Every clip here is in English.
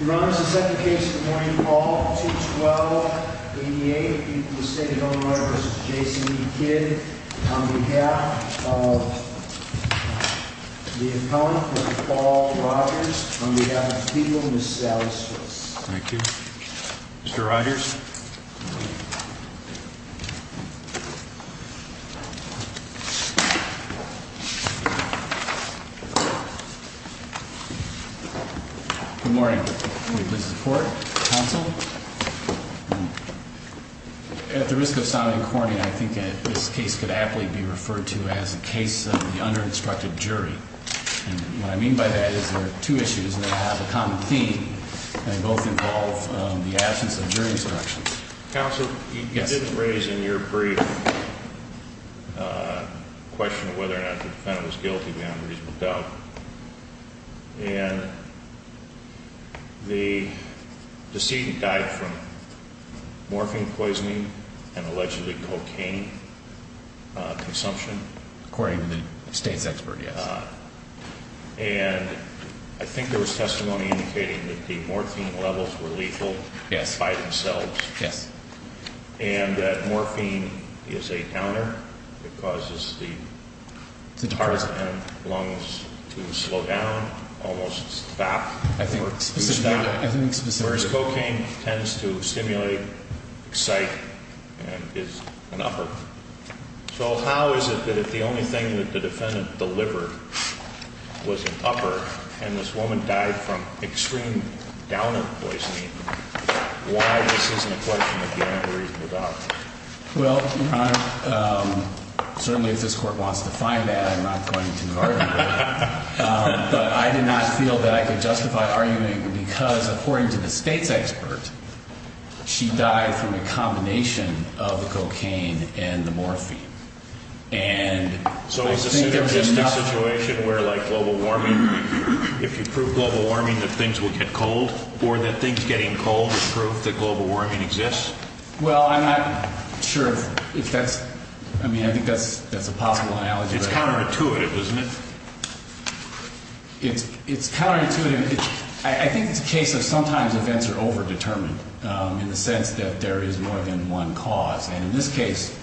Your Honor, this is the second case of the morning, Paul, 2-12-88, the state of Illinois v. Jason v. Kidd, on behalf of the appellant, Mr. Paul Rogers, on behalf of the people, Ms. Sally Swift. Thank you. Mr. Rogers? Good morning. Will you please support the counsel? At the risk of sounding corny, I think that this case could aptly be referred to as a case of the under-instructed jury. And what I mean by that is there are two issues, and they have a common theme, and they both involve the absence of jury instructions. Counsel, you didn't raise in your brief a question of whether or not the defendant was guilty beyond reasonable doubt. And the decedent died from morphine poisoning and allegedly cocaine consumption. According to the state's expert, yes. And I think there was testimony indicating that the morphine levels were lethal. Yes. By themselves. Yes. And that morphine is a counter. It causes the heart and lungs to slow down, almost stop, whereas cocaine tends to stimulate, excite and is an upper. So how is it that if the only thing that the defendant delivered was an upper, and this woman died from extreme downer poisoning, why this isn't a question of getting reasonable doubt? Well, Your Honor, certainly if this Court wants to find that, I'm not going to argue with it. But I did not feel that I could justify arguing because, according to the state's expert, she died from a combination of the cocaine and the morphine. And I think there's just enough. So is this an existing situation where, like global warming, if you prove global warming, that things will get cold, or that things getting cold is proof that global warming exists? Well, I'm not sure if that's – I mean, I think that's a possible analogy. It's counterintuitive, isn't it? It's counterintuitive. I think it's a case of sometimes events are overdetermined in the sense that there is more than one cause. And in this case,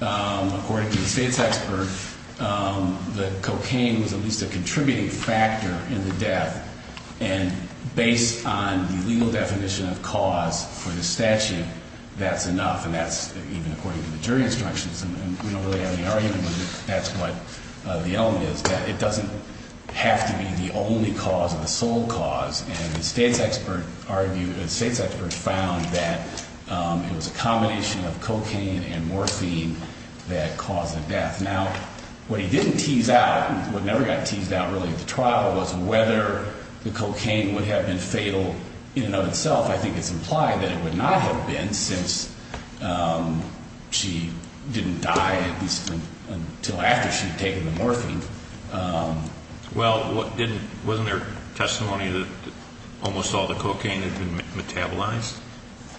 according to the state's expert, the cocaine was at least a contributing factor in the death. And based on the legal definition of cause for the statute, that's enough. And that's even according to the jury instructions. And we don't really have any argument with it. That's what the element is, that it doesn't have to be the only cause or the sole cause. And the state's expert argued – the state's expert found that it was a combination of cocaine and morphine that caused the death. Now, what he didn't tease out, what never got teased out really at the trial, was whether the cocaine would have been fatal in and of itself. I think it's implied that it would not have been since she didn't die, at least until after she had taken the morphine. Well, wasn't there testimony that almost all the cocaine had been metabolized?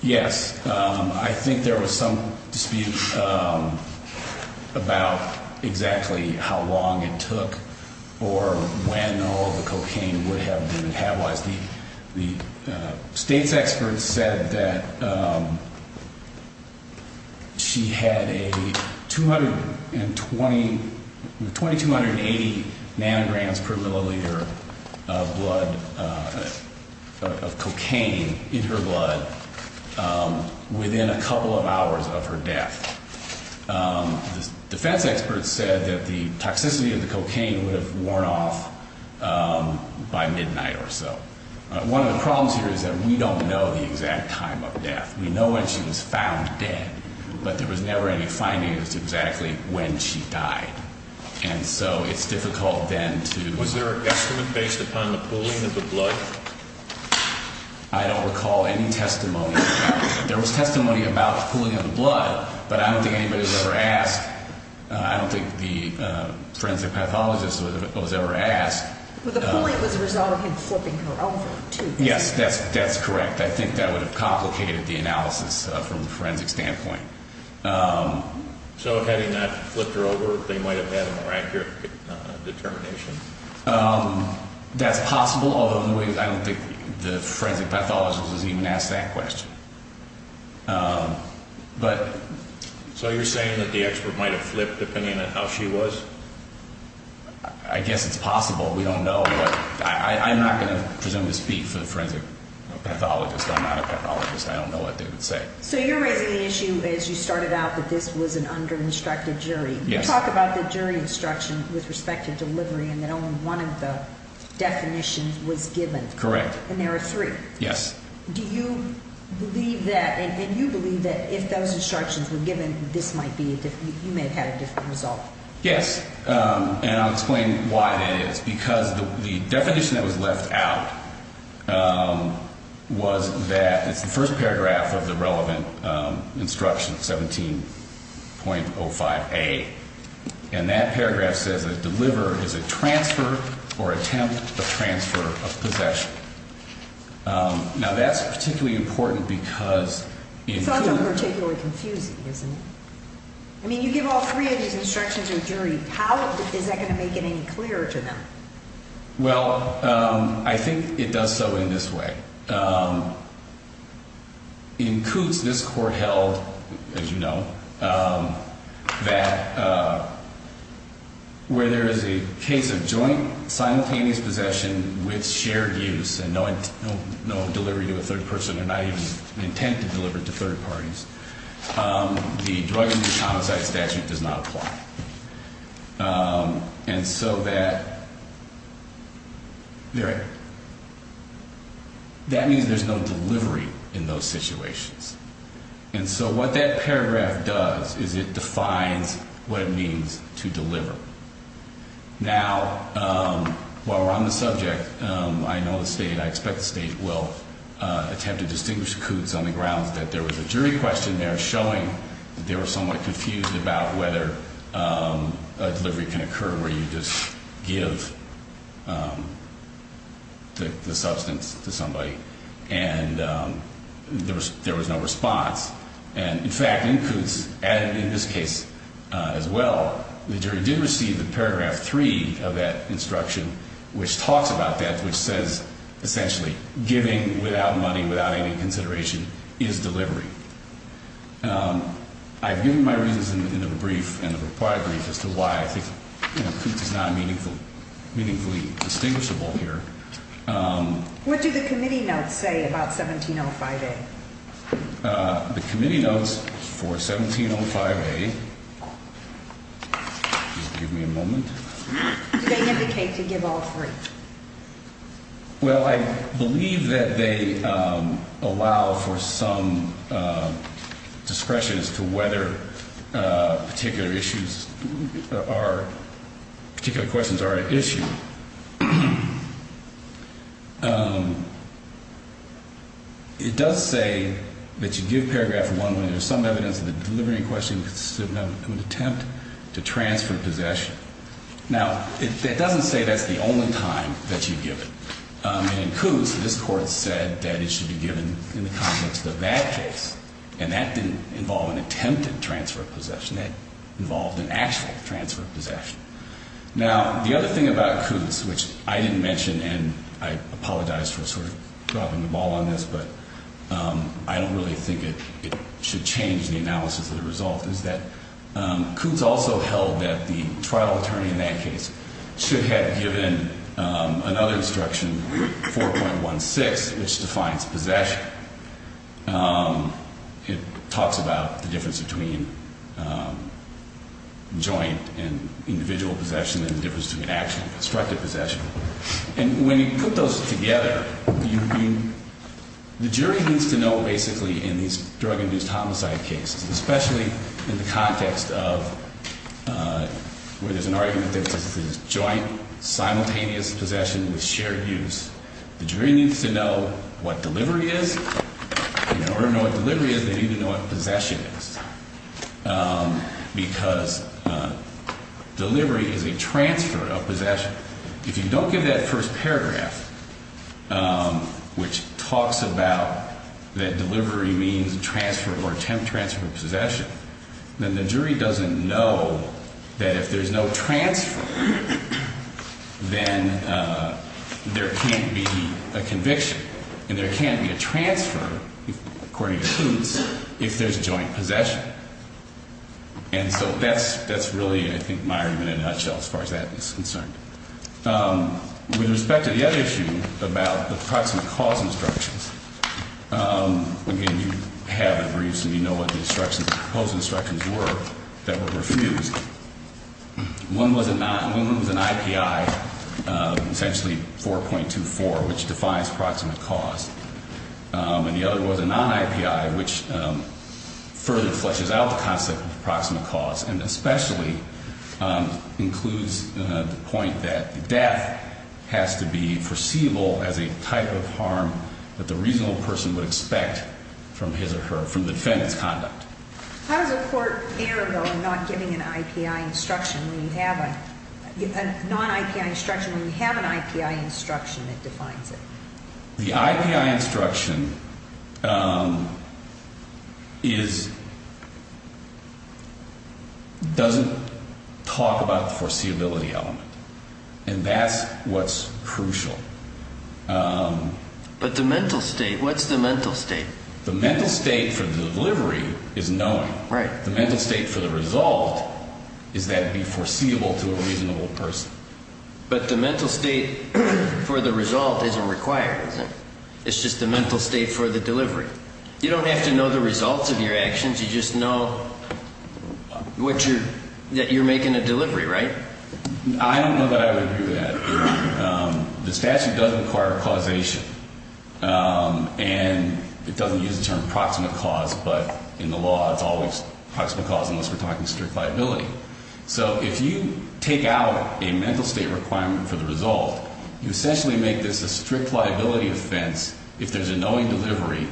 Yes. I think there was some dispute about exactly how long it took or when all the cocaine would have been metabolized. The state's expert said that she had a 220 – 2280 nanograms per milliliter of blood – of cocaine in her blood within a couple of hours of her death. The defense expert said that the toxicity of the cocaine would have worn off by midnight or so. One of the problems here is that we don't know the exact time of death. We know when she was found dead, but there was never any finding as to exactly when she died. And so it's difficult then to – Was there a guesstimate based upon the pooling of the blood? I don't recall any testimony. There was testimony about the pooling of the blood, but I don't think anybody was ever asked. I don't think the forensic pathologist was ever asked. But the pooling was a result of him flipping her over, too. Yes, that's correct. I think that would have complicated the analysis from the forensic standpoint. So had he not flipped her over, they might have had a more accurate determination? That's possible, although I don't think the forensic pathologist was even asked that question. So you're saying that the expert might have flipped depending on how she was? I guess it's possible. We don't know. But I'm not going to presume to speak for the forensic pathologist. I'm not a pathologist. I don't know what they would say. So you're raising the issue, as you started out, that this was an under-instructed jury. You talk about the jury instruction with respect to delivery and that only one of the definitions was given. Correct. And there are three. Yes. Do you believe that, and you believe that if those instructions were given, you may have had a different result? Yes, and I'll explain why that is. Because the definition that was left out was that it's the first paragraph of the relevant instruction, 17.05A. And that paragraph says that deliver is a transfer or attempt to transfer of possession. Now, that's particularly important because it includes – It's also particularly confusing, isn't it? I mean, you give all three of these instructions to a jury. How is that going to make it any clearer to them? Well, I think it does so in this way. It includes this court held, as you know, that where there is a case of joint, simultaneous possession with shared use and no delivery to a third person or not even an intent to deliver to third parties, the drug and homicide statute does not apply. And so that means there's no delivery in those situations. And so what that paragraph does is it defines what it means to deliver. Now, while we're on the subject, I know the State, I expect the State will attempt to distinguish coups on the grounds that there was a jury question there showing that they were somewhat confused about whether a delivery can occur where you just give the substance to somebody and there was no response. And, in fact, in coups, and in this case as well, the jury did receive the paragraph three of that instruction, which talks about that, which says, essentially, giving without money, without any consideration, is delivery. I've given my reasons in the brief and the required brief as to why I think coups is not meaningfully distinguishable here. What do the committee notes say about 1705A? The committee notes for 1705A, give me a moment. They indicate to give all three. Well, I believe that they allow for some discretion as to whether particular issues are, particular questions are at issue. It does say that you give paragraph one when there's some evidence that the delivery question would attempt to transfer possession. Now, it doesn't say that's the only time that you give it. In coups, this Court said that it should be given in the context of that case, and that didn't involve an attempted transfer of possession. Now, the other thing about coups, which I didn't mention, and I apologize for sort of dropping the ball on this, but I don't really think it should change the analysis of the result, is that coups also held that the trial attorney in that case should have given another instruction, 4.16, which defines possession. It talks about the difference between joint and individual possession and the difference between actual and constructive possession. And when you put those together, the jury needs to know, basically, in these drug-induced homicide cases, especially in the context of where there's an argument that this is joint, simultaneous possession with shared use, the jury needs to know what delivery is. In order to know what delivery is, they need to know what possession is, because delivery is a transfer of possession. If you don't give that first paragraph, which talks about that delivery means transfer or attempt transfer of possession, then the jury doesn't know that if there's no transfer, then there can't be a conviction. And there can't be a transfer, according to coups, if there's joint possession. And so that's really, I think, my argument in a nutshell as far as that is concerned. With respect to the other issue about the proximate cause instructions, again, you have the briefs and you know what the instructions, the proposed instructions were that were refused. One was an IPI, essentially 4.24, which defines proximate cause. And the other was a non-IPI, which further fleshes out the concept of proximate cause and especially includes the point that death has to be foreseeable as a type of harm that the reasonable person would expect from his or her, from the defendant's conduct. How does a court narrow in not giving an IPI instruction when you have a non-IPI instruction? When you have an IPI instruction, it defines it. The IPI instruction doesn't talk about the foreseeability element. And that's what's crucial. But the mental state, what's the mental state? The mental state for the delivery is knowing. Right. The mental state for the result is that it would be foreseeable to a reasonable person. But the mental state for the result isn't required, is it? It's just the mental state for the delivery. You don't have to know the results of your actions. You just know that you're making a delivery, right? I don't know that I would agree with that. The statute doesn't require causation. And it doesn't use the term proximate cause, but in the law it's always proximate cause unless we're talking strict liability. So if you take out a mental state requirement for the result, you essentially make this a strict liability offense if there's a knowing delivery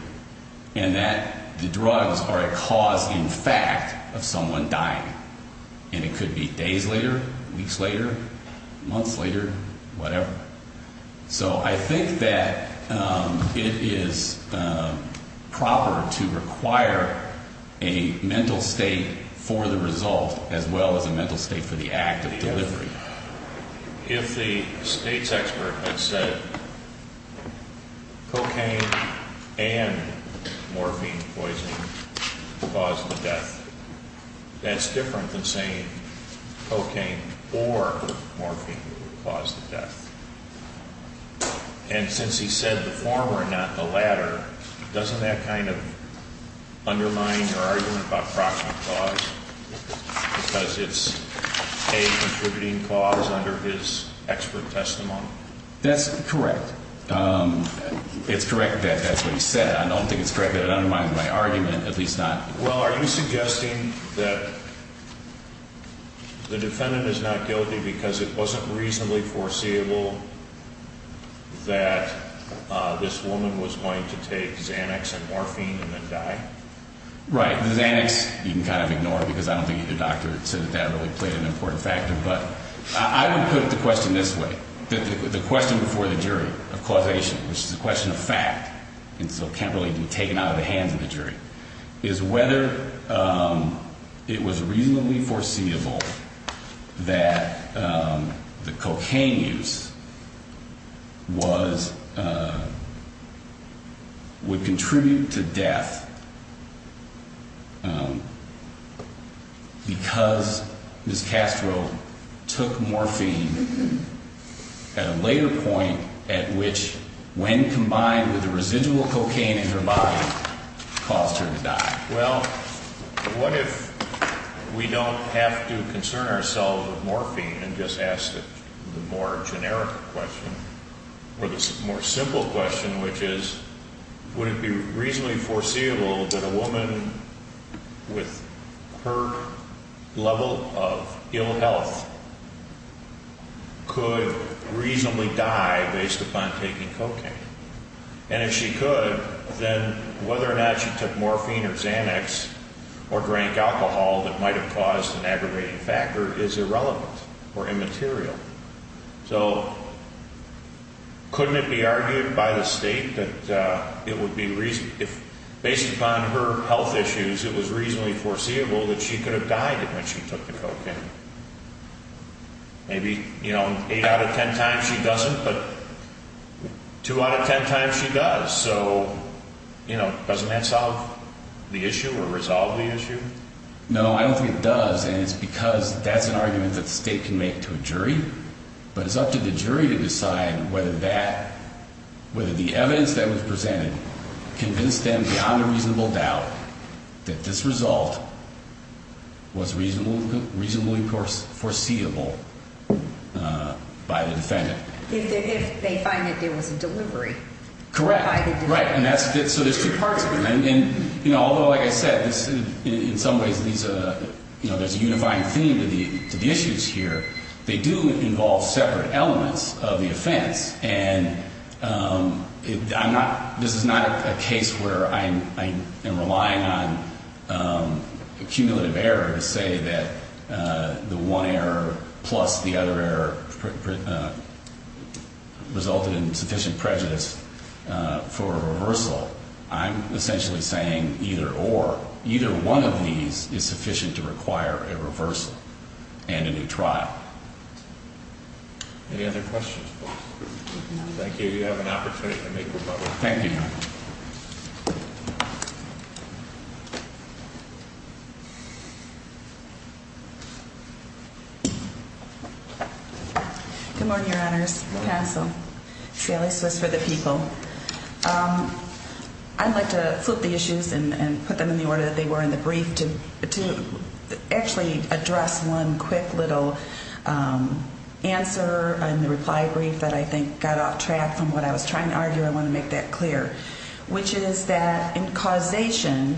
and that the drugs are a cause in fact of someone dying. And it could be days later, weeks later, months later, whatever. So I think that it is proper to require a mental state for the result as well as a mental state for the act of delivery. If the state's expert had said cocaine and morphine poisoning caused the death, that's different than saying cocaine or morphine caused the death. And since he said the former and not the latter, doesn't that kind of undermine your argument about proximate cause? Because it's a contributing cause under his expert testimony? That's correct. It's correct that that's what he said. I don't think it's correct that it undermines my argument, at least not. Well, are you suggesting that the defendant is not guilty because it wasn't reasonably foreseeable that this woman was going to take Xanax and morphine and then die? Right. The Xanax, you can kind of ignore because I don't think either doctor said that that really played an important factor. But I would put the question this way. The question before the jury of causation, which is a question of fact, and so can't really be taken out of the hands of the jury, is whether it was reasonably foreseeable that the cocaine use was, would contribute to death because Ms. Castro took morphine at a later point at which, when combined with the residual cocaine in her body, caused her to die? And if she could, then whether or not she took morphine or Xanax or drank alcohol that might have caused an aggravating factor is irrelevant or immaterial. So couldn't it be argued by the State that it would be, based upon her health issues, it was reasonably foreseeable that she could have died when she took the cocaine? Maybe, you know, 8 out of 10 times she doesn't, but 2 out of 10 times she does. So, you know, doesn't that solve the issue or resolve the issue? No, I don't think it does. And it's because that's an argument that the State can make to a jury. But it's up to the jury to decide whether that, whether the evidence that was presented convinced them beyond a reasonable doubt that this result was reasonably foreseeable by the defendant. If they find that there was a delivery. Correct. By the defendant. Right. And that's, so there's two parts of it. And, you know, although, like I said, in some ways there's a unifying theme to the issues here, they do involve separate elements of the offense. And I'm not, this is not a case where I am relying on a cumulative error to say that the one error plus the other error resulted in sufficient prejudice for a reversal. I'm essentially saying either or. Either one of these is sufficient to require a reversal and a new trial. Any other questions? Thank you. You have an opportunity to make rebuttal. Thank you. Good morning, Your Honors. I have a brief that I think got off track from what I was trying to argue. I want to make that clear, which is that in causation,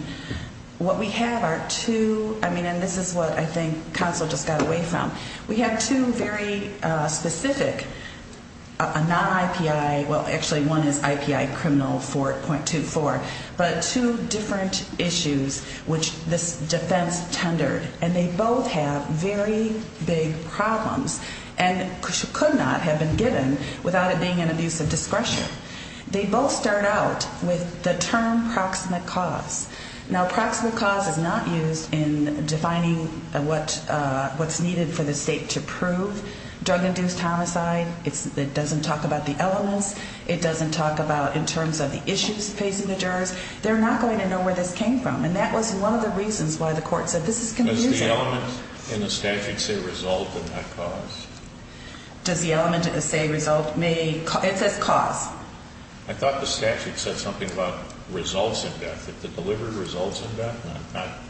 what we have are two, I mean, and this is what I think counsel just got away from. We have two very specific, a non-IPI, well, actually one is IPI criminal 4.24, but two different issues which this defense tendered. And they both have very big problems and could not have been given without it being an abuse of discretion. They both start out with the term proximate cause. Now, proximate cause is not used in defining what's needed for the state to prove drug-induced homicide. It doesn't talk about the elements. It doesn't talk about in terms of the issues facing the jurors. They're not going to know where this came from. And that was one of the reasons why the court said this is confusing. Does the element in the statute say result and not cause? Does the element say result may, it says cause. I thought the statute said something about results in death, that the delivery results in death.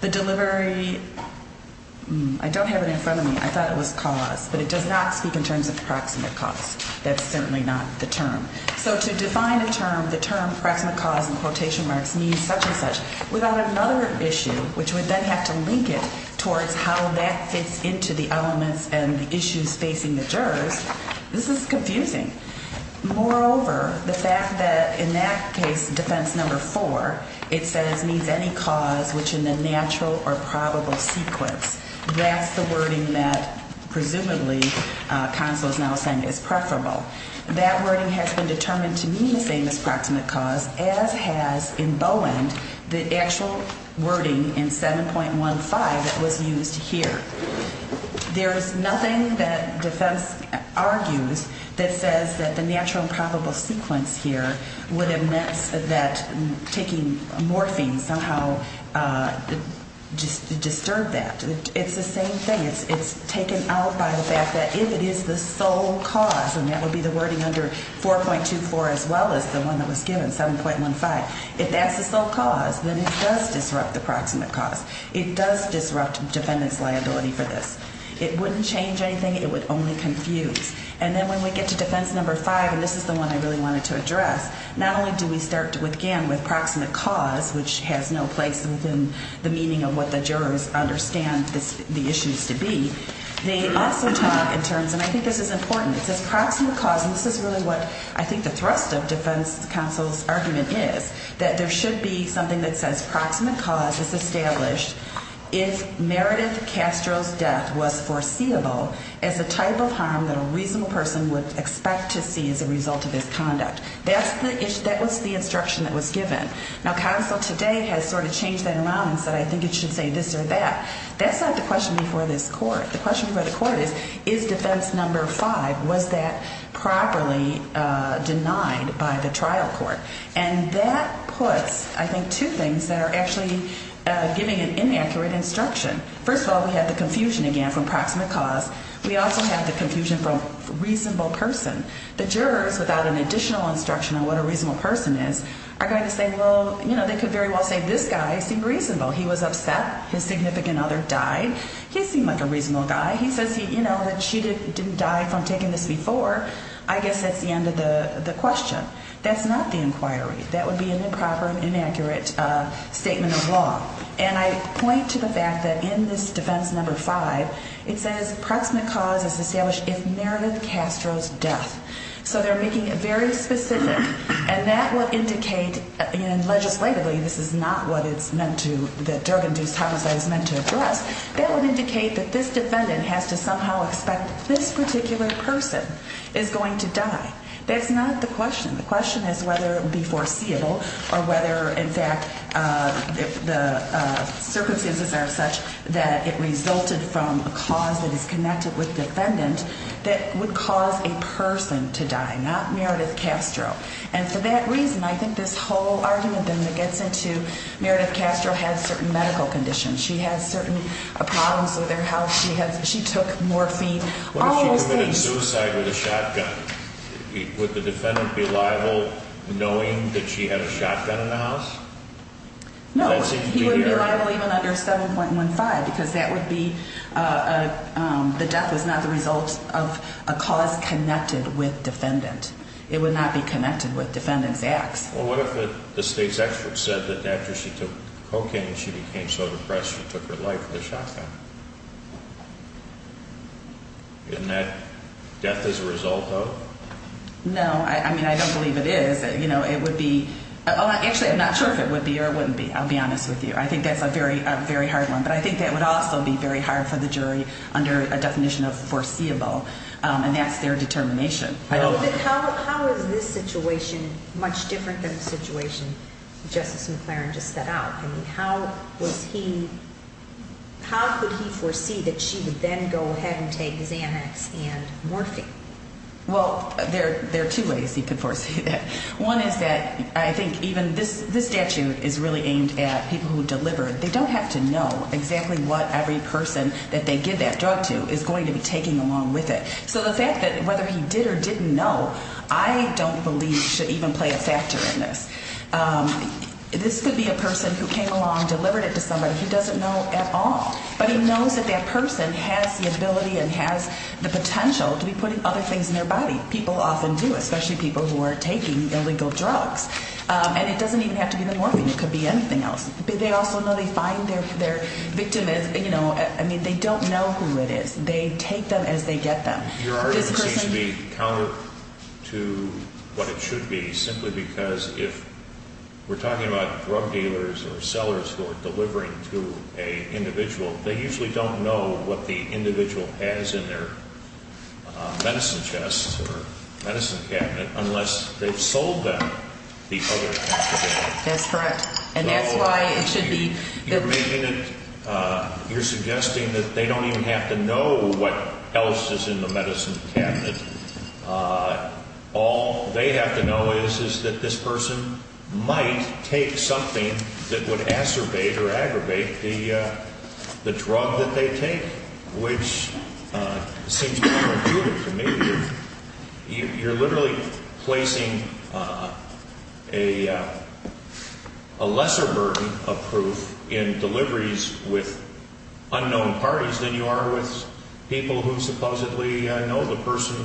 The delivery, I don't have it in front of me. I thought it was cause. But it does not speak in terms of proximate cause. That's certainly not the term. So to define a term, the term proximate cause in quotation marks means such and such, without another issue, which would then have to link it towards how that fits into the elements and the issues facing the jurors, this is confusing. Moreover, the fact that in that case, defense number four, it says needs any cause which in the natural or probable sequence, that's the wording that presumably counsel is now saying is preferable. That wording has been determined to mean the same as proximate cause, as has in Bowen, the actual wording in 7.15 that was used here. There is nothing that defense argues that says that the natural and probable sequence here would have meant that taking morphine somehow disturbed that. It's the same thing. It's taken out by the fact that if it is the sole cause, and that would be the wording under 4.24 as well as the one that was given, 7.15, if that's the sole cause, then it does disrupt the proximate cause. It does disrupt defendant's liability for this. It wouldn't change anything. It would only confuse. And then when we get to defense number five, and this is the one I really wanted to address, not only do we start again with proximate cause, which has no place within the meaning of what the jurors understand the issue is to be, they also talk in terms, and I think this is important, it says proximate cause, and this is really what I think the thrust of defense counsel's argument is, that there should be something that says proximate cause is established if Meredith Castro's death was foreseeable as a type of harm that a reasonable person would expect to see as a result of his conduct. That was the instruction that was given. Now, counsel today has sort of changed that around and said, I think it should say this or that. That's not the question before this court. The question before the court is, is defense number five, was that properly denied by the trial court? And that puts, I think, two things that are actually giving an inaccurate instruction. First of all, we have the confusion again from proximate cause. We also have the confusion from reasonable person. The jurors, without an additional instruction on what a reasonable person is, are going to say, well, you know, they could very well say this guy seemed reasonable. He was upset. His significant other died. He seemed like a reasonable guy. He says, you know, that she didn't die from taking this before. I guess that's the end of the question. That's not the inquiry. That would be an improper and inaccurate statement of law. And I point to the fact that in this defense number five, it says proximate cause is established if Meredith Castro's death. So they're making it very specific. And that would indicate, and legislatively, this is not what it's meant to, the drug-induced homicide is meant to address. That would indicate that this defendant has to somehow expect this particular person is going to die. That's not the question. The question is whether it would be foreseeable or whether, in fact, the circumstances are such that it resulted from a cause that is connected with defendant that would cause a person to die, not Meredith Castro. And for that reason, I think this whole argument then gets into Meredith Castro had certain medical conditions. She had certain problems with her health. What if she committed suicide with a shotgun? Would the defendant be liable knowing that she had a shotgun in the house? No, he wouldn't be liable even under 7.15 because that would be, the death was not the result of a cause connected with defendant. It would not be connected with defendant's acts. Well, what if the state's expert said that after she took cocaine, she became so depressed she took her life with a shotgun? Isn't that death as a result of? No, I mean, I don't believe it is. You know, it would be, actually, I'm not sure if it would be or it wouldn't be. I'll be honest with you. I think that's a very hard one. But I think that would also be very hard for the jury under a definition of foreseeable. And that's their determination. How is this situation much different than the situation Justice McLaren just set out? I mean, how was he, how could he foresee that she would then go ahead and take Xanax and morphine? Well, there are two ways he could foresee that. One is that I think even this statute is really aimed at people who deliver. They don't have to know exactly what every person that they give that drug to is going to be taking along with it. So the fact that whether he did or didn't know, I don't believe should even play a factor in this. This could be a person who came along, delivered it to somebody who doesn't know at all. But he knows that that person has the ability and has the potential to be putting other things in their body. People often do, especially people who are taking illegal drugs. And it doesn't even have to be the morphine. It could be anything else. But they also know they find their victim, you know, I mean, they don't know who it is. They take them as they get them. Your argument seems to be counter to what it should be, simply because if we're talking about drug dealers or sellers who are delivering to an individual, they usually don't know what the individual has in their medicine chest or medicine cabinet, unless they've sold them the other half of it. That's correct. You're suggesting that they don't even have to know what else is in the medicine cabinet. All they have to know is that this person might take something that would acerbate or aggravate the drug that they take, which seems counterintuitive to me. You're literally placing a lesser burden of proof in deliveries with unknown parties than you are with people who supposedly know the person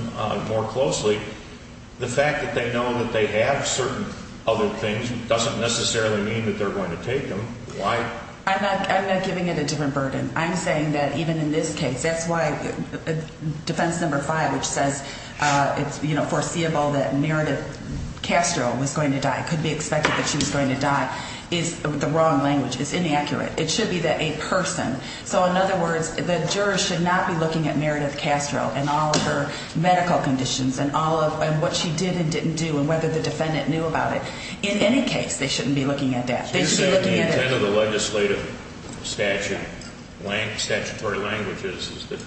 more closely. The fact that they know that they have certain other things doesn't necessarily mean that they're going to take them. Why? I'm not giving it a different burden. I'm saying that even in this case, that's why defense number five, which says it's foreseeable that Meredith Castro was going to die, could be expected that she was going to die, is the wrong language. It's inaccurate. It should be that a person. So in other words, the jurors should not be looking at Meredith Castro and all of her medical conditions and what she did and didn't do and whether the defendant knew about it. In any case, they shouldn't be looking at that. You said the intent of the legislative statute, statutory language, is that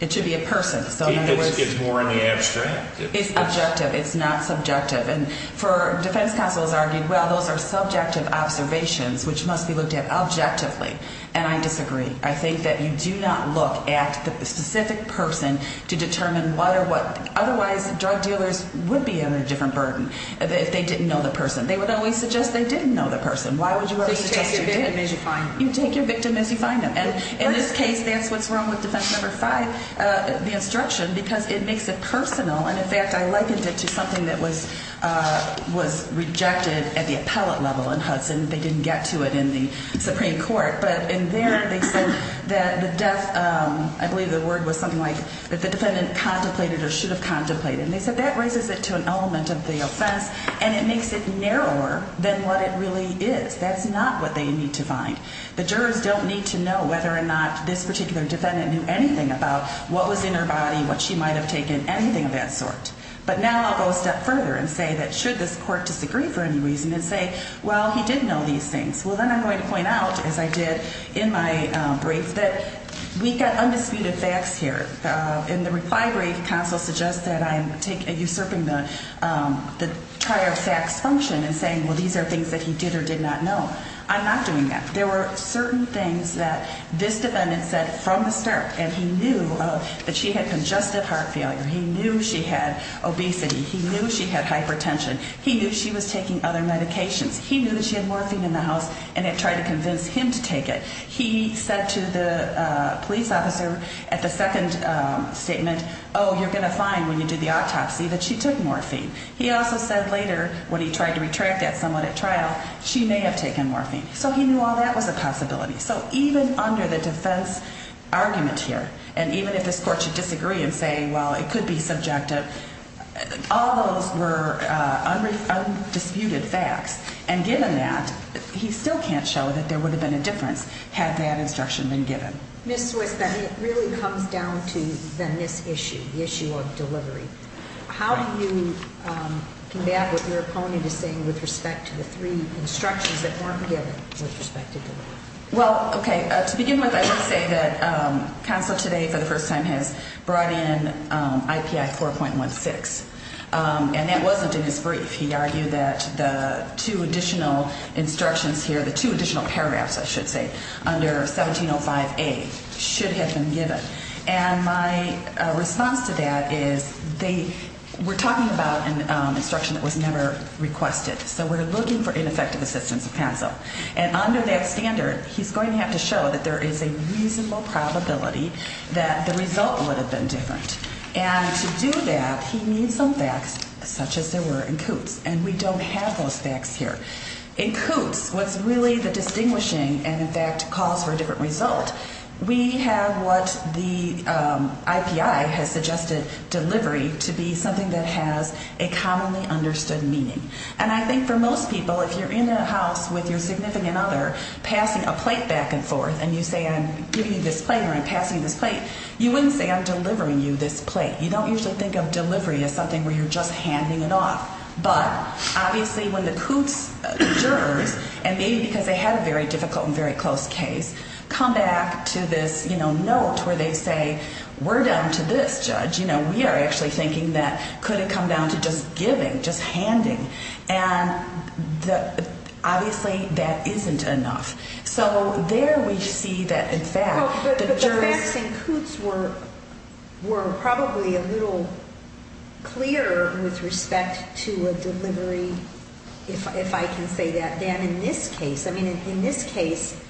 it's more in the abstract. It's objective. It's not subjective. And the defense counsel has argued, well, those are subjective observations, which must be looked at objectively. And I disagree. I think that you do not look at the specific person to determine what or what. Otherwise, drug dealers would be under a different burden if they didn't know the person. They would always suggest they didn't know the person. Why would you ever suggest you did? You take your victim as you find them. You take your victim as you find them. And in this case, that's what's wrong with defense number five, the instruction, because it makes it personal. And, in fact, I likened it to something that was rejected at the appellate level in Hudson. They didn't get to it in the Supreme Court. But in there, they said that the death, I believe the word was something like if the defendant contemplated or should have contemplated. And they said that raises it to an element of the offense, and it makes it narrower than what it really is. That's not what they need to find. The jurors don't need to know whether or not this particular defendant knew anything about what was in her body, what she might have taken, anything of that sort. But now I'll go a step further and say that should this court disagree for any reason and say, well, he did know these things, well, then I'm going to point out, as I did in my brief, that we've got undisputed facts here. In the reply brief, counsel suggests that I'm usurping the trier of facts function and saying, well, these are things that he did or did not know. I'm not doing that. There were certain things that this defendant said from the start, and he knew that she had congestive heart failure. He knew she had obesity. He knew she had hypertension. He knew she was taking other medications. He knew that she had morphine in the house and had tried to convince him to take it. He said to the police officer at the second statement, oh, you're going to find when you do the autopsy that she took morphine. He also said later when he tried to retract that somewhat at trial, she may have taken morphine. So he knew all that was a possibility. So even under the defense argument here, and even if this court should disagree and say, well, it could be subjective, all those were undisputed facts. And given that, he still can't show that there would have been a difference had that instruction been given. Ms. Swiss, then it really comes down to then this issue, the issue of delivery. How do you combat what your opponent is saying with respect to the three instructions that weren't given with respect to delivery? Well, okay, to begin with, I would say that counsel today for the first time has brought in IPI 4.16. And that wasn't in his brief. He argued that the two additional instructions here, the two additional paragraphs, I should say, under 1705A should have been given. And my response to that is they were talking about an instruction that was never requested. So we're looking for ineffective assistance of counsel. And under that standard, he's going to have to show that there is a reasonable probability that the result would have been different. And to do that, he needs some facts such as there were in Coots. And we don't have those facts here. In Coots, what's really the distinguishing and, in fact, calls for a different result, we have what the IPI has suggested delivery to be something that has a commonly understood meaning. And I think for most people, if you're in a house with your significant other passing a plate back and forth and you say I'm giving you this plate or I'm passing you this plate, you wouldn't say I'm delivering you this plate. You don't usually think of delivery as something where you're just handing it off. But obviously when the Coots jurors, and maybe because they had a very difficult and very close case, come back to this, you know, note where they say we're down to this judge. You know, we are actually thinking that could it come down to just giving, just handing. And obviously that isn't enough. So there we see that, in fact, the jurors. But the facts in Coots were probably a little clearer with respect to a delivery, if I can say that, than in this case. I mean, in this case,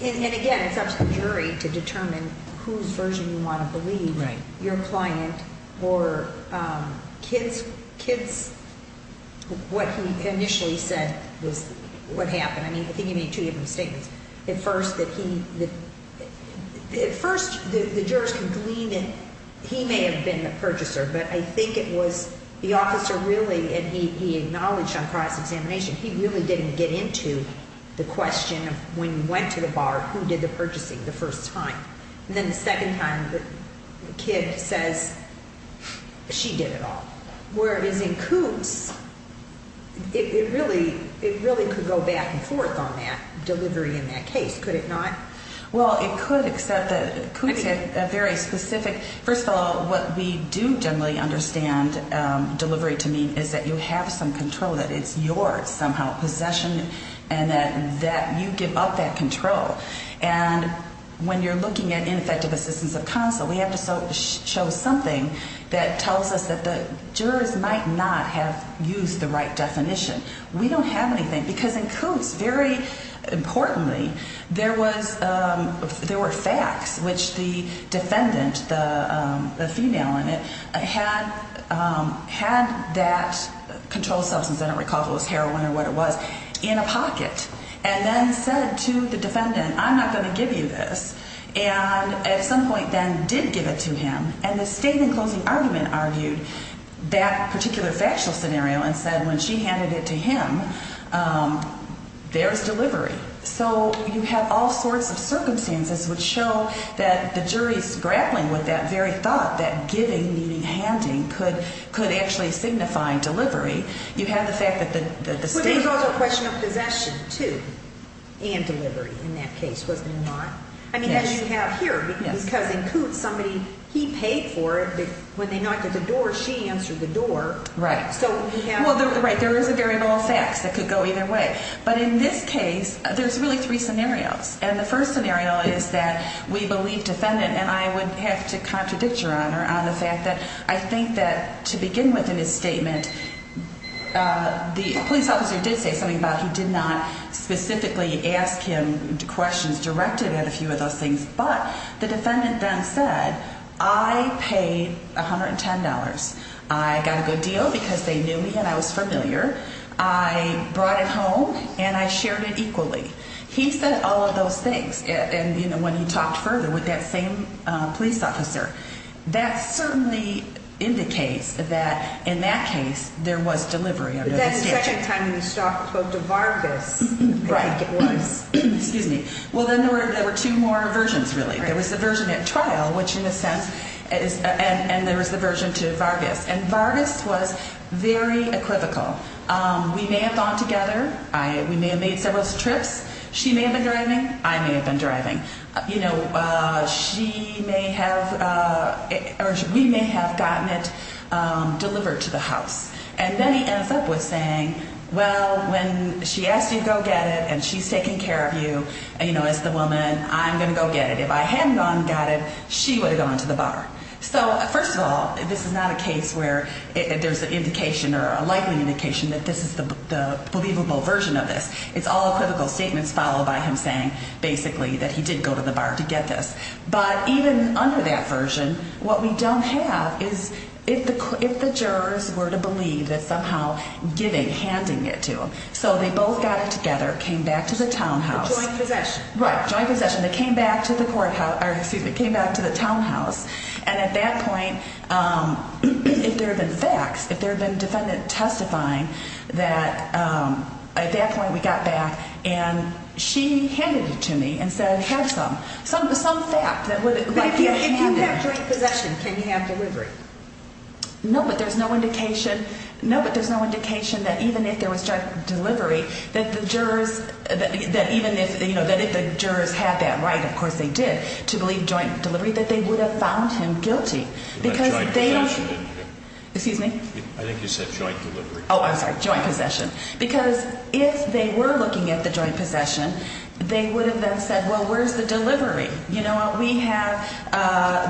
and again, it's up to the jury to determine whose version you want to believe. Right. Or what he initially said was what happened. I mean, I think he made two different statements. At first, the jurors can glean that he may have been the purchaser, but I think it was the officer really, and he acknowledged on price examination, he really didn't get into the question of when you went to the bar, who did the purchasing the first time. And then the second time, the kid says she did it all. Where it is in Coots, it really could go back and forth on that delivery in that case, could it not? Well, it could, except that Coots had a very specific. First of all, what we do generally understand delivery to mean is that you have some control, that it's yours somehow, possession, and that you give up that control. And when you're looking at ineffective assistance of counsel, we have to show something that tells us that the jurors might not have used the right definition. We don't have anything, because in Coots, very importantly, there were facts which the defendant, the female in it, had that controlled substance, I don't recall if it was heroin or what it was, in a pocket, and then said to the defendant, I'm not going to give you this. And at some point then did give it to him, and the statement closing argument argued that particular factual scenario and said when she handed it to him, there's delivery. So you have all sorts of circumstances which show that the jury's grappling with that very thought, that giving, meaning handing, could actually signify delivery. You have the fact that the statement... But there's also a question of possession, too, and delivery in that case, was it or not? Yes. I mean, as you have here, because in Coots, somebody, he paid for it. When they knocked at the door, she answered the door. Right. So we have... Well, right, there is a variable of facts that could go either way. But in this case, there's really three scenarios. And the first scenario is that we believe defendant, and I would have to contradict Your Honor on the fact that I think that to begin with in his statement, the police officer did say something about he did not specifically ask him questions directed at a few of those things. But the defendant then said, I paid $110. I got a good deal because they knew me and I was familiar. I brought it home, and I shared it equally. He said all of those things. And, you know, when he talked further with that same police officer, that certainly indicates that in that case, there was delivery under the statute. But that's the second time you spoke to Vargas. Right. I think it was. Excuse me. Well, then there were two more versions, really. Right. There was the version at trial, which in a sense is... And there was the version to Vargas. And Vargas was very equivocal. We may have gone together. We may have made several trips. She may have been driving. I may have been driving. You know, she may have or we may have gotten it delivered to the house. And then he ends up with saying, well, when she asked you to go get it and she's taking care of you, you know, as the woman, I'm going to go get it. If I hadn't gone and got it, she would have gone to the bar. So, first of all, this is not a case where there's an indication or a likely indication that this is the believable version of this. It's all equivocal statements followed by him saying basically that he did go to the bar to get this. But even under that version, what we don't have is if the jurors were to believe that somehow giving, handing it to him. So they both got it together, came back to the townhouse. Joint possession. Right. Joint possession. They came back to the courthouse or excuse me, came back to the townhouse. And at that point, if there had been facts, if there had been a defendant testifying that at that point we got back and she handed it to me and said have some. Some fact. But if you have joint possession, can you have delivery? No, but there's no indication. No, but there's no indication that even if there was direct delivery, that the jurors that even if you know that if the jurors had that right, of course they did to believe joint delivery, that they would have found him guilty. Because they don't. Excuse me. I think you said joint delivery. Oh, I'm sorry. Joint possession. Because if they were looking at the joint possession, they would have then said, well, where's the delivery? You know what? We have,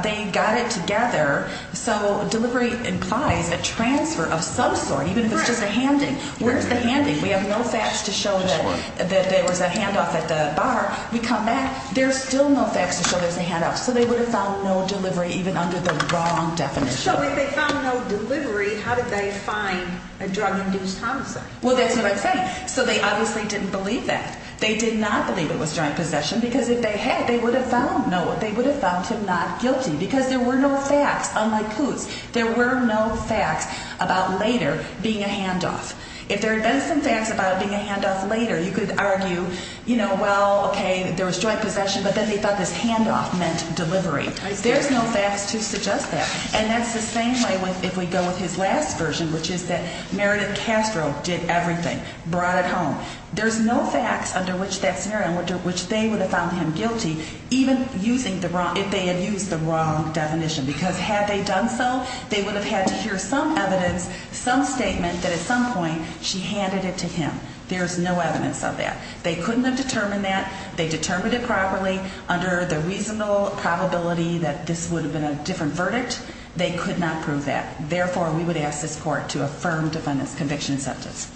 they got it together. So delivery implies a transfer of some sort, even if it's just a handing. Where's the handing? We have no facts to show that there was a handoff at the bar. We come back. There's still no facts to show there's a handoff. So they would have found no delivery even under the wrong definition. So if they found no delivery, how did they find a drug-induced homicide? Well, that's what I'm saying. So they obviously didn't believe that. They did not believe it was joint possession because if they had, they would have found Noah. They would have found him not guilty because there were no facts. Unlike Coots, there were no facts about later being a handoff. If there had been some facts about it being a handoff later, you could argue, you know, well, okay, there was joint possession, but then they thought this handoff meant delivery. There's no facts to suggest that. And that's the same way if we go with his last version, which is that Meredith Castro did everything, brought it home. There's no facts under which that scenario, which they would have found him guilty, even if they had used the wrong definition because had they done so, they would have had to hear some evidence, some statement that at some point she handed it to him. There's no evidence of that. They couldn't have determined that. They determined it properly under the reasonable probability that this would have been a different verdict. They could not prove that. Therefore, we would ask this court to affirm defendant's conviction and sentence.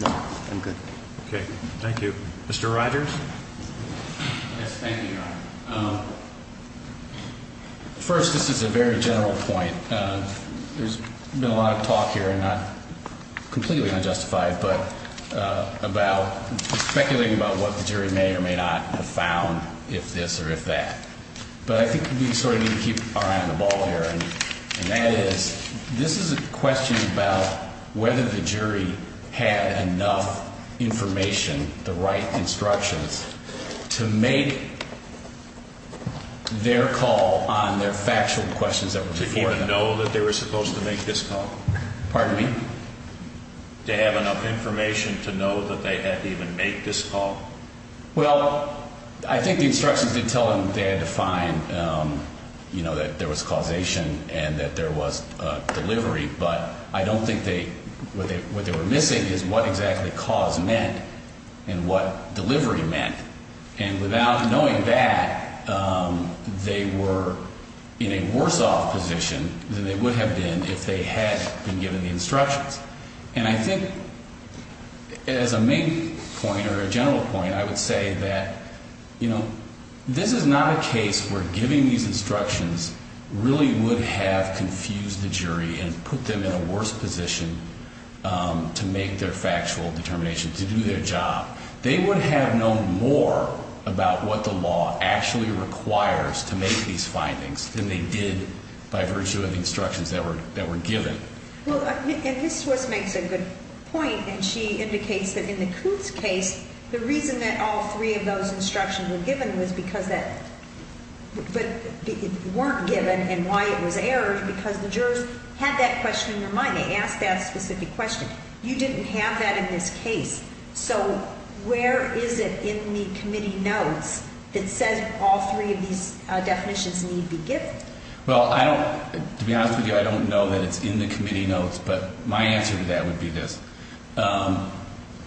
No, I'm good. Okay. Thank you. Mr. Rogers. Yes, thank you, Your Honor. First, this is a very general point. There's been a lot of talk here, and not completely unjustified, but about speculating about what the jury may or may not have found, if this or if that. But I think we sort of need to keep our eye on the ball here. And that is, this is a question about whether the jury had enough information, the right instructions, to make their call on their factual questions that were before them. To even know that they were supposed to make this call? Pardon me? To have enough information to know that they had to even make this call? Well, I think the instructions did tell them they had to find, you know, that there was causation and that there was delivery. But I don't think they – what they were missing is what exactly cause meant and what delivery meant. And without knowing that, they were in a worse-off position than they would have been if they had been given the instructions. And I think, as a main point or a general point, I would say that, you know, this is not a case where giving these instructions really would have confused the jury and put them in a worse position to make their factual determination, to do their job. They would have known more about what the law actually requires to make these findings than they did by virtue of the instructions that were given. Well, and Ms. Swiss makes a good point, and she indicates that in the Coots case, the reason that all three of those instructions were given was because that – but weren't given and why it was errors because the jurors had that question in their mind. They asked that specific question. You didn't have that in this case. So where is it in the committee notes that says all three of these definitions need to be given? Well, I don't – to be honest with you, I don't know that it's in the committee notes, but my answer to that would be this.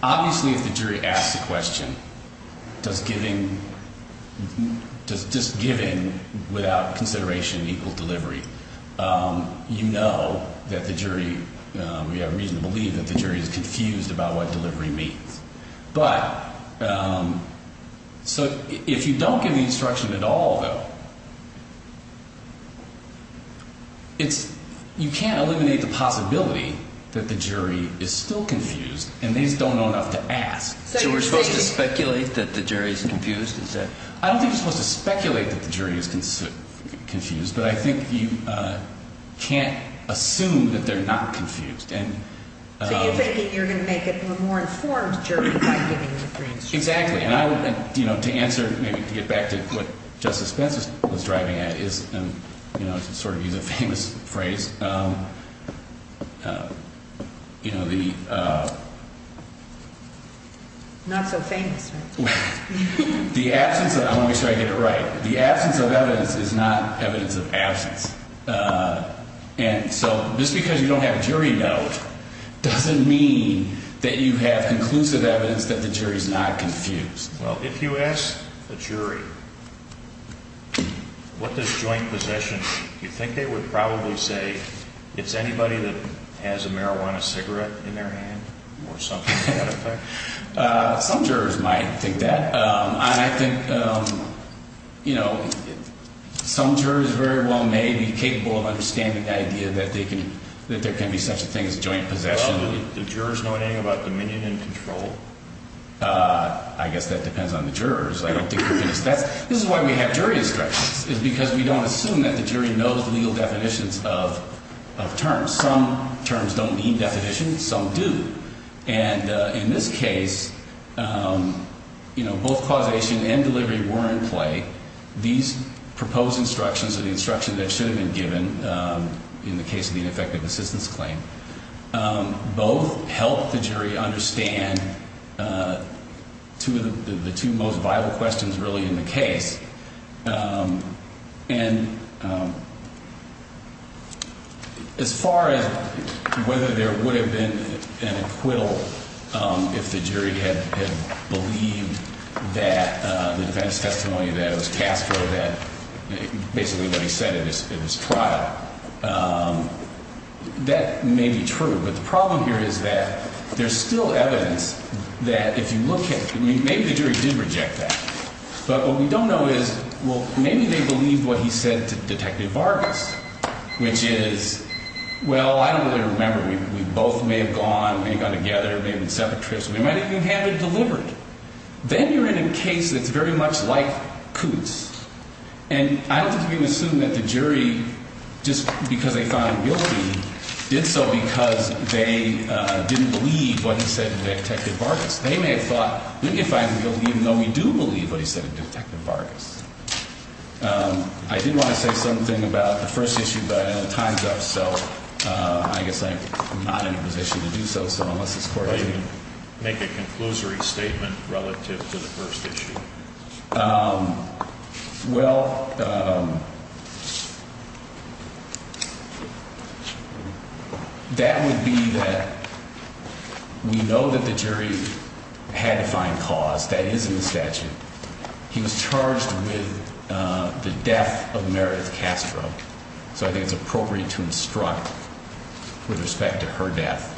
Obviously, if the jury asks the question, does giving – does just giving without consideration equal delivery, you know that the jury – we have reason to believe that the jury is confused about what delivery means. But – so if you don't give the instruction at all, though, it's – you can't eliminate the possibility that the jury is still confused and these don't know enough to ask. So you're supposed to speculate that the jury is confused? I don't think you're supposed to speculate that the jury is confused, but I think you can't assume that they're not confused. So you're thinking you're going to make it a more informed jury by giving the instructions? Exactly. And I would – to answer – maybe to get back to what Justice Pence was driving at is – and to sort of use a famous phrase, you know, the – Not so famous. The absence of – I want to make sure I get it right. The absence of evidence is not evidence of absence. And so just because you don't have a jury note doesn't mean that you have conclusive evidence that the jury is not confused. Well, if you ask a jury what does joint possession mean, do you think they would probably say it's anybody that has a marijuana cigarette in their hand or something to that effect? Some jurors might think that. I think, you know, some jurors very well may be capable of understanding the idea that they can – that there can be such a thing as joint possession. Well, do the jurors know anything about dominion and control? I guess that depends on the jurors. I don't think – this is why we have jury instructions, is because we don't assume that the jury knows the legal definitions of terms. Some terms don't need definitions. Some do. And in this case, you know, both causation and delivery were in play. These proposed instructions are the instructions that should have been given in the case of the ineffective assistance claim. Both helped the jury understand two of the – the two most vital questions really in the case. And as far as whether there would have been an acquittal if the jury had believed that – the defense testimony that was cast for that – basically what he said in his trial, that may be true. But the problem here is that there's still evidence that if you look at – I mean, maybe the jury did reject that. But what we don't know is, well, maybe they believed what he said to Detective Vargas, which is, well, I don't really remember. We both may have gone, may have gone together, may have been separate trips. We might even have it delivered. Then you're in a case that's very much like Coots. And I don't think we can assume that the jury, just because they found guilty, did so because they didn't believe what he said to Detective Vargas. They may have thought, maybe if I'm guilty, even though we do believe what he said to Detective Vargas. I did want to say something about the first issue, but I know time's up, so I guess I'm not in a position to do so. So unless this Court – Make a conclusory statement relative to the first issue. Well, that would be that we know that the jury had to find cause. That is in the statute. He was charged with the death of Meredith Castro. So I think it's appropriate to instruct with respect to her death.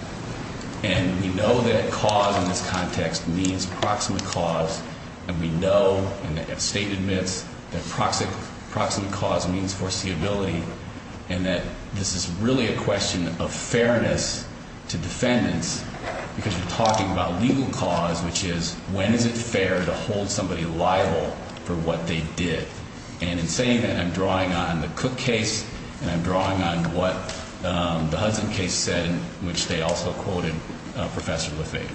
And we know that cause in this context means proximate cause. And we know, and the State admits, that proximate cause means foreseeability. And that this is really a question of fairness to defendants because we're talking about legal cause, which is when is it fair to hold somebody liable for what they did. And in saying that, I'm drawing on the Cook case, and I'm drawing on what the Hudson case said, which they also quoted Professor Lafayette.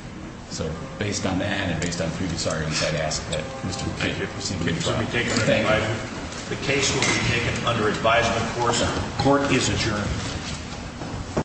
So based on that and based on previous arguments, I'd ask that Mr. McKeon proceed with the trial. Thank you. The case will be taken under advisement. Court is adjourned.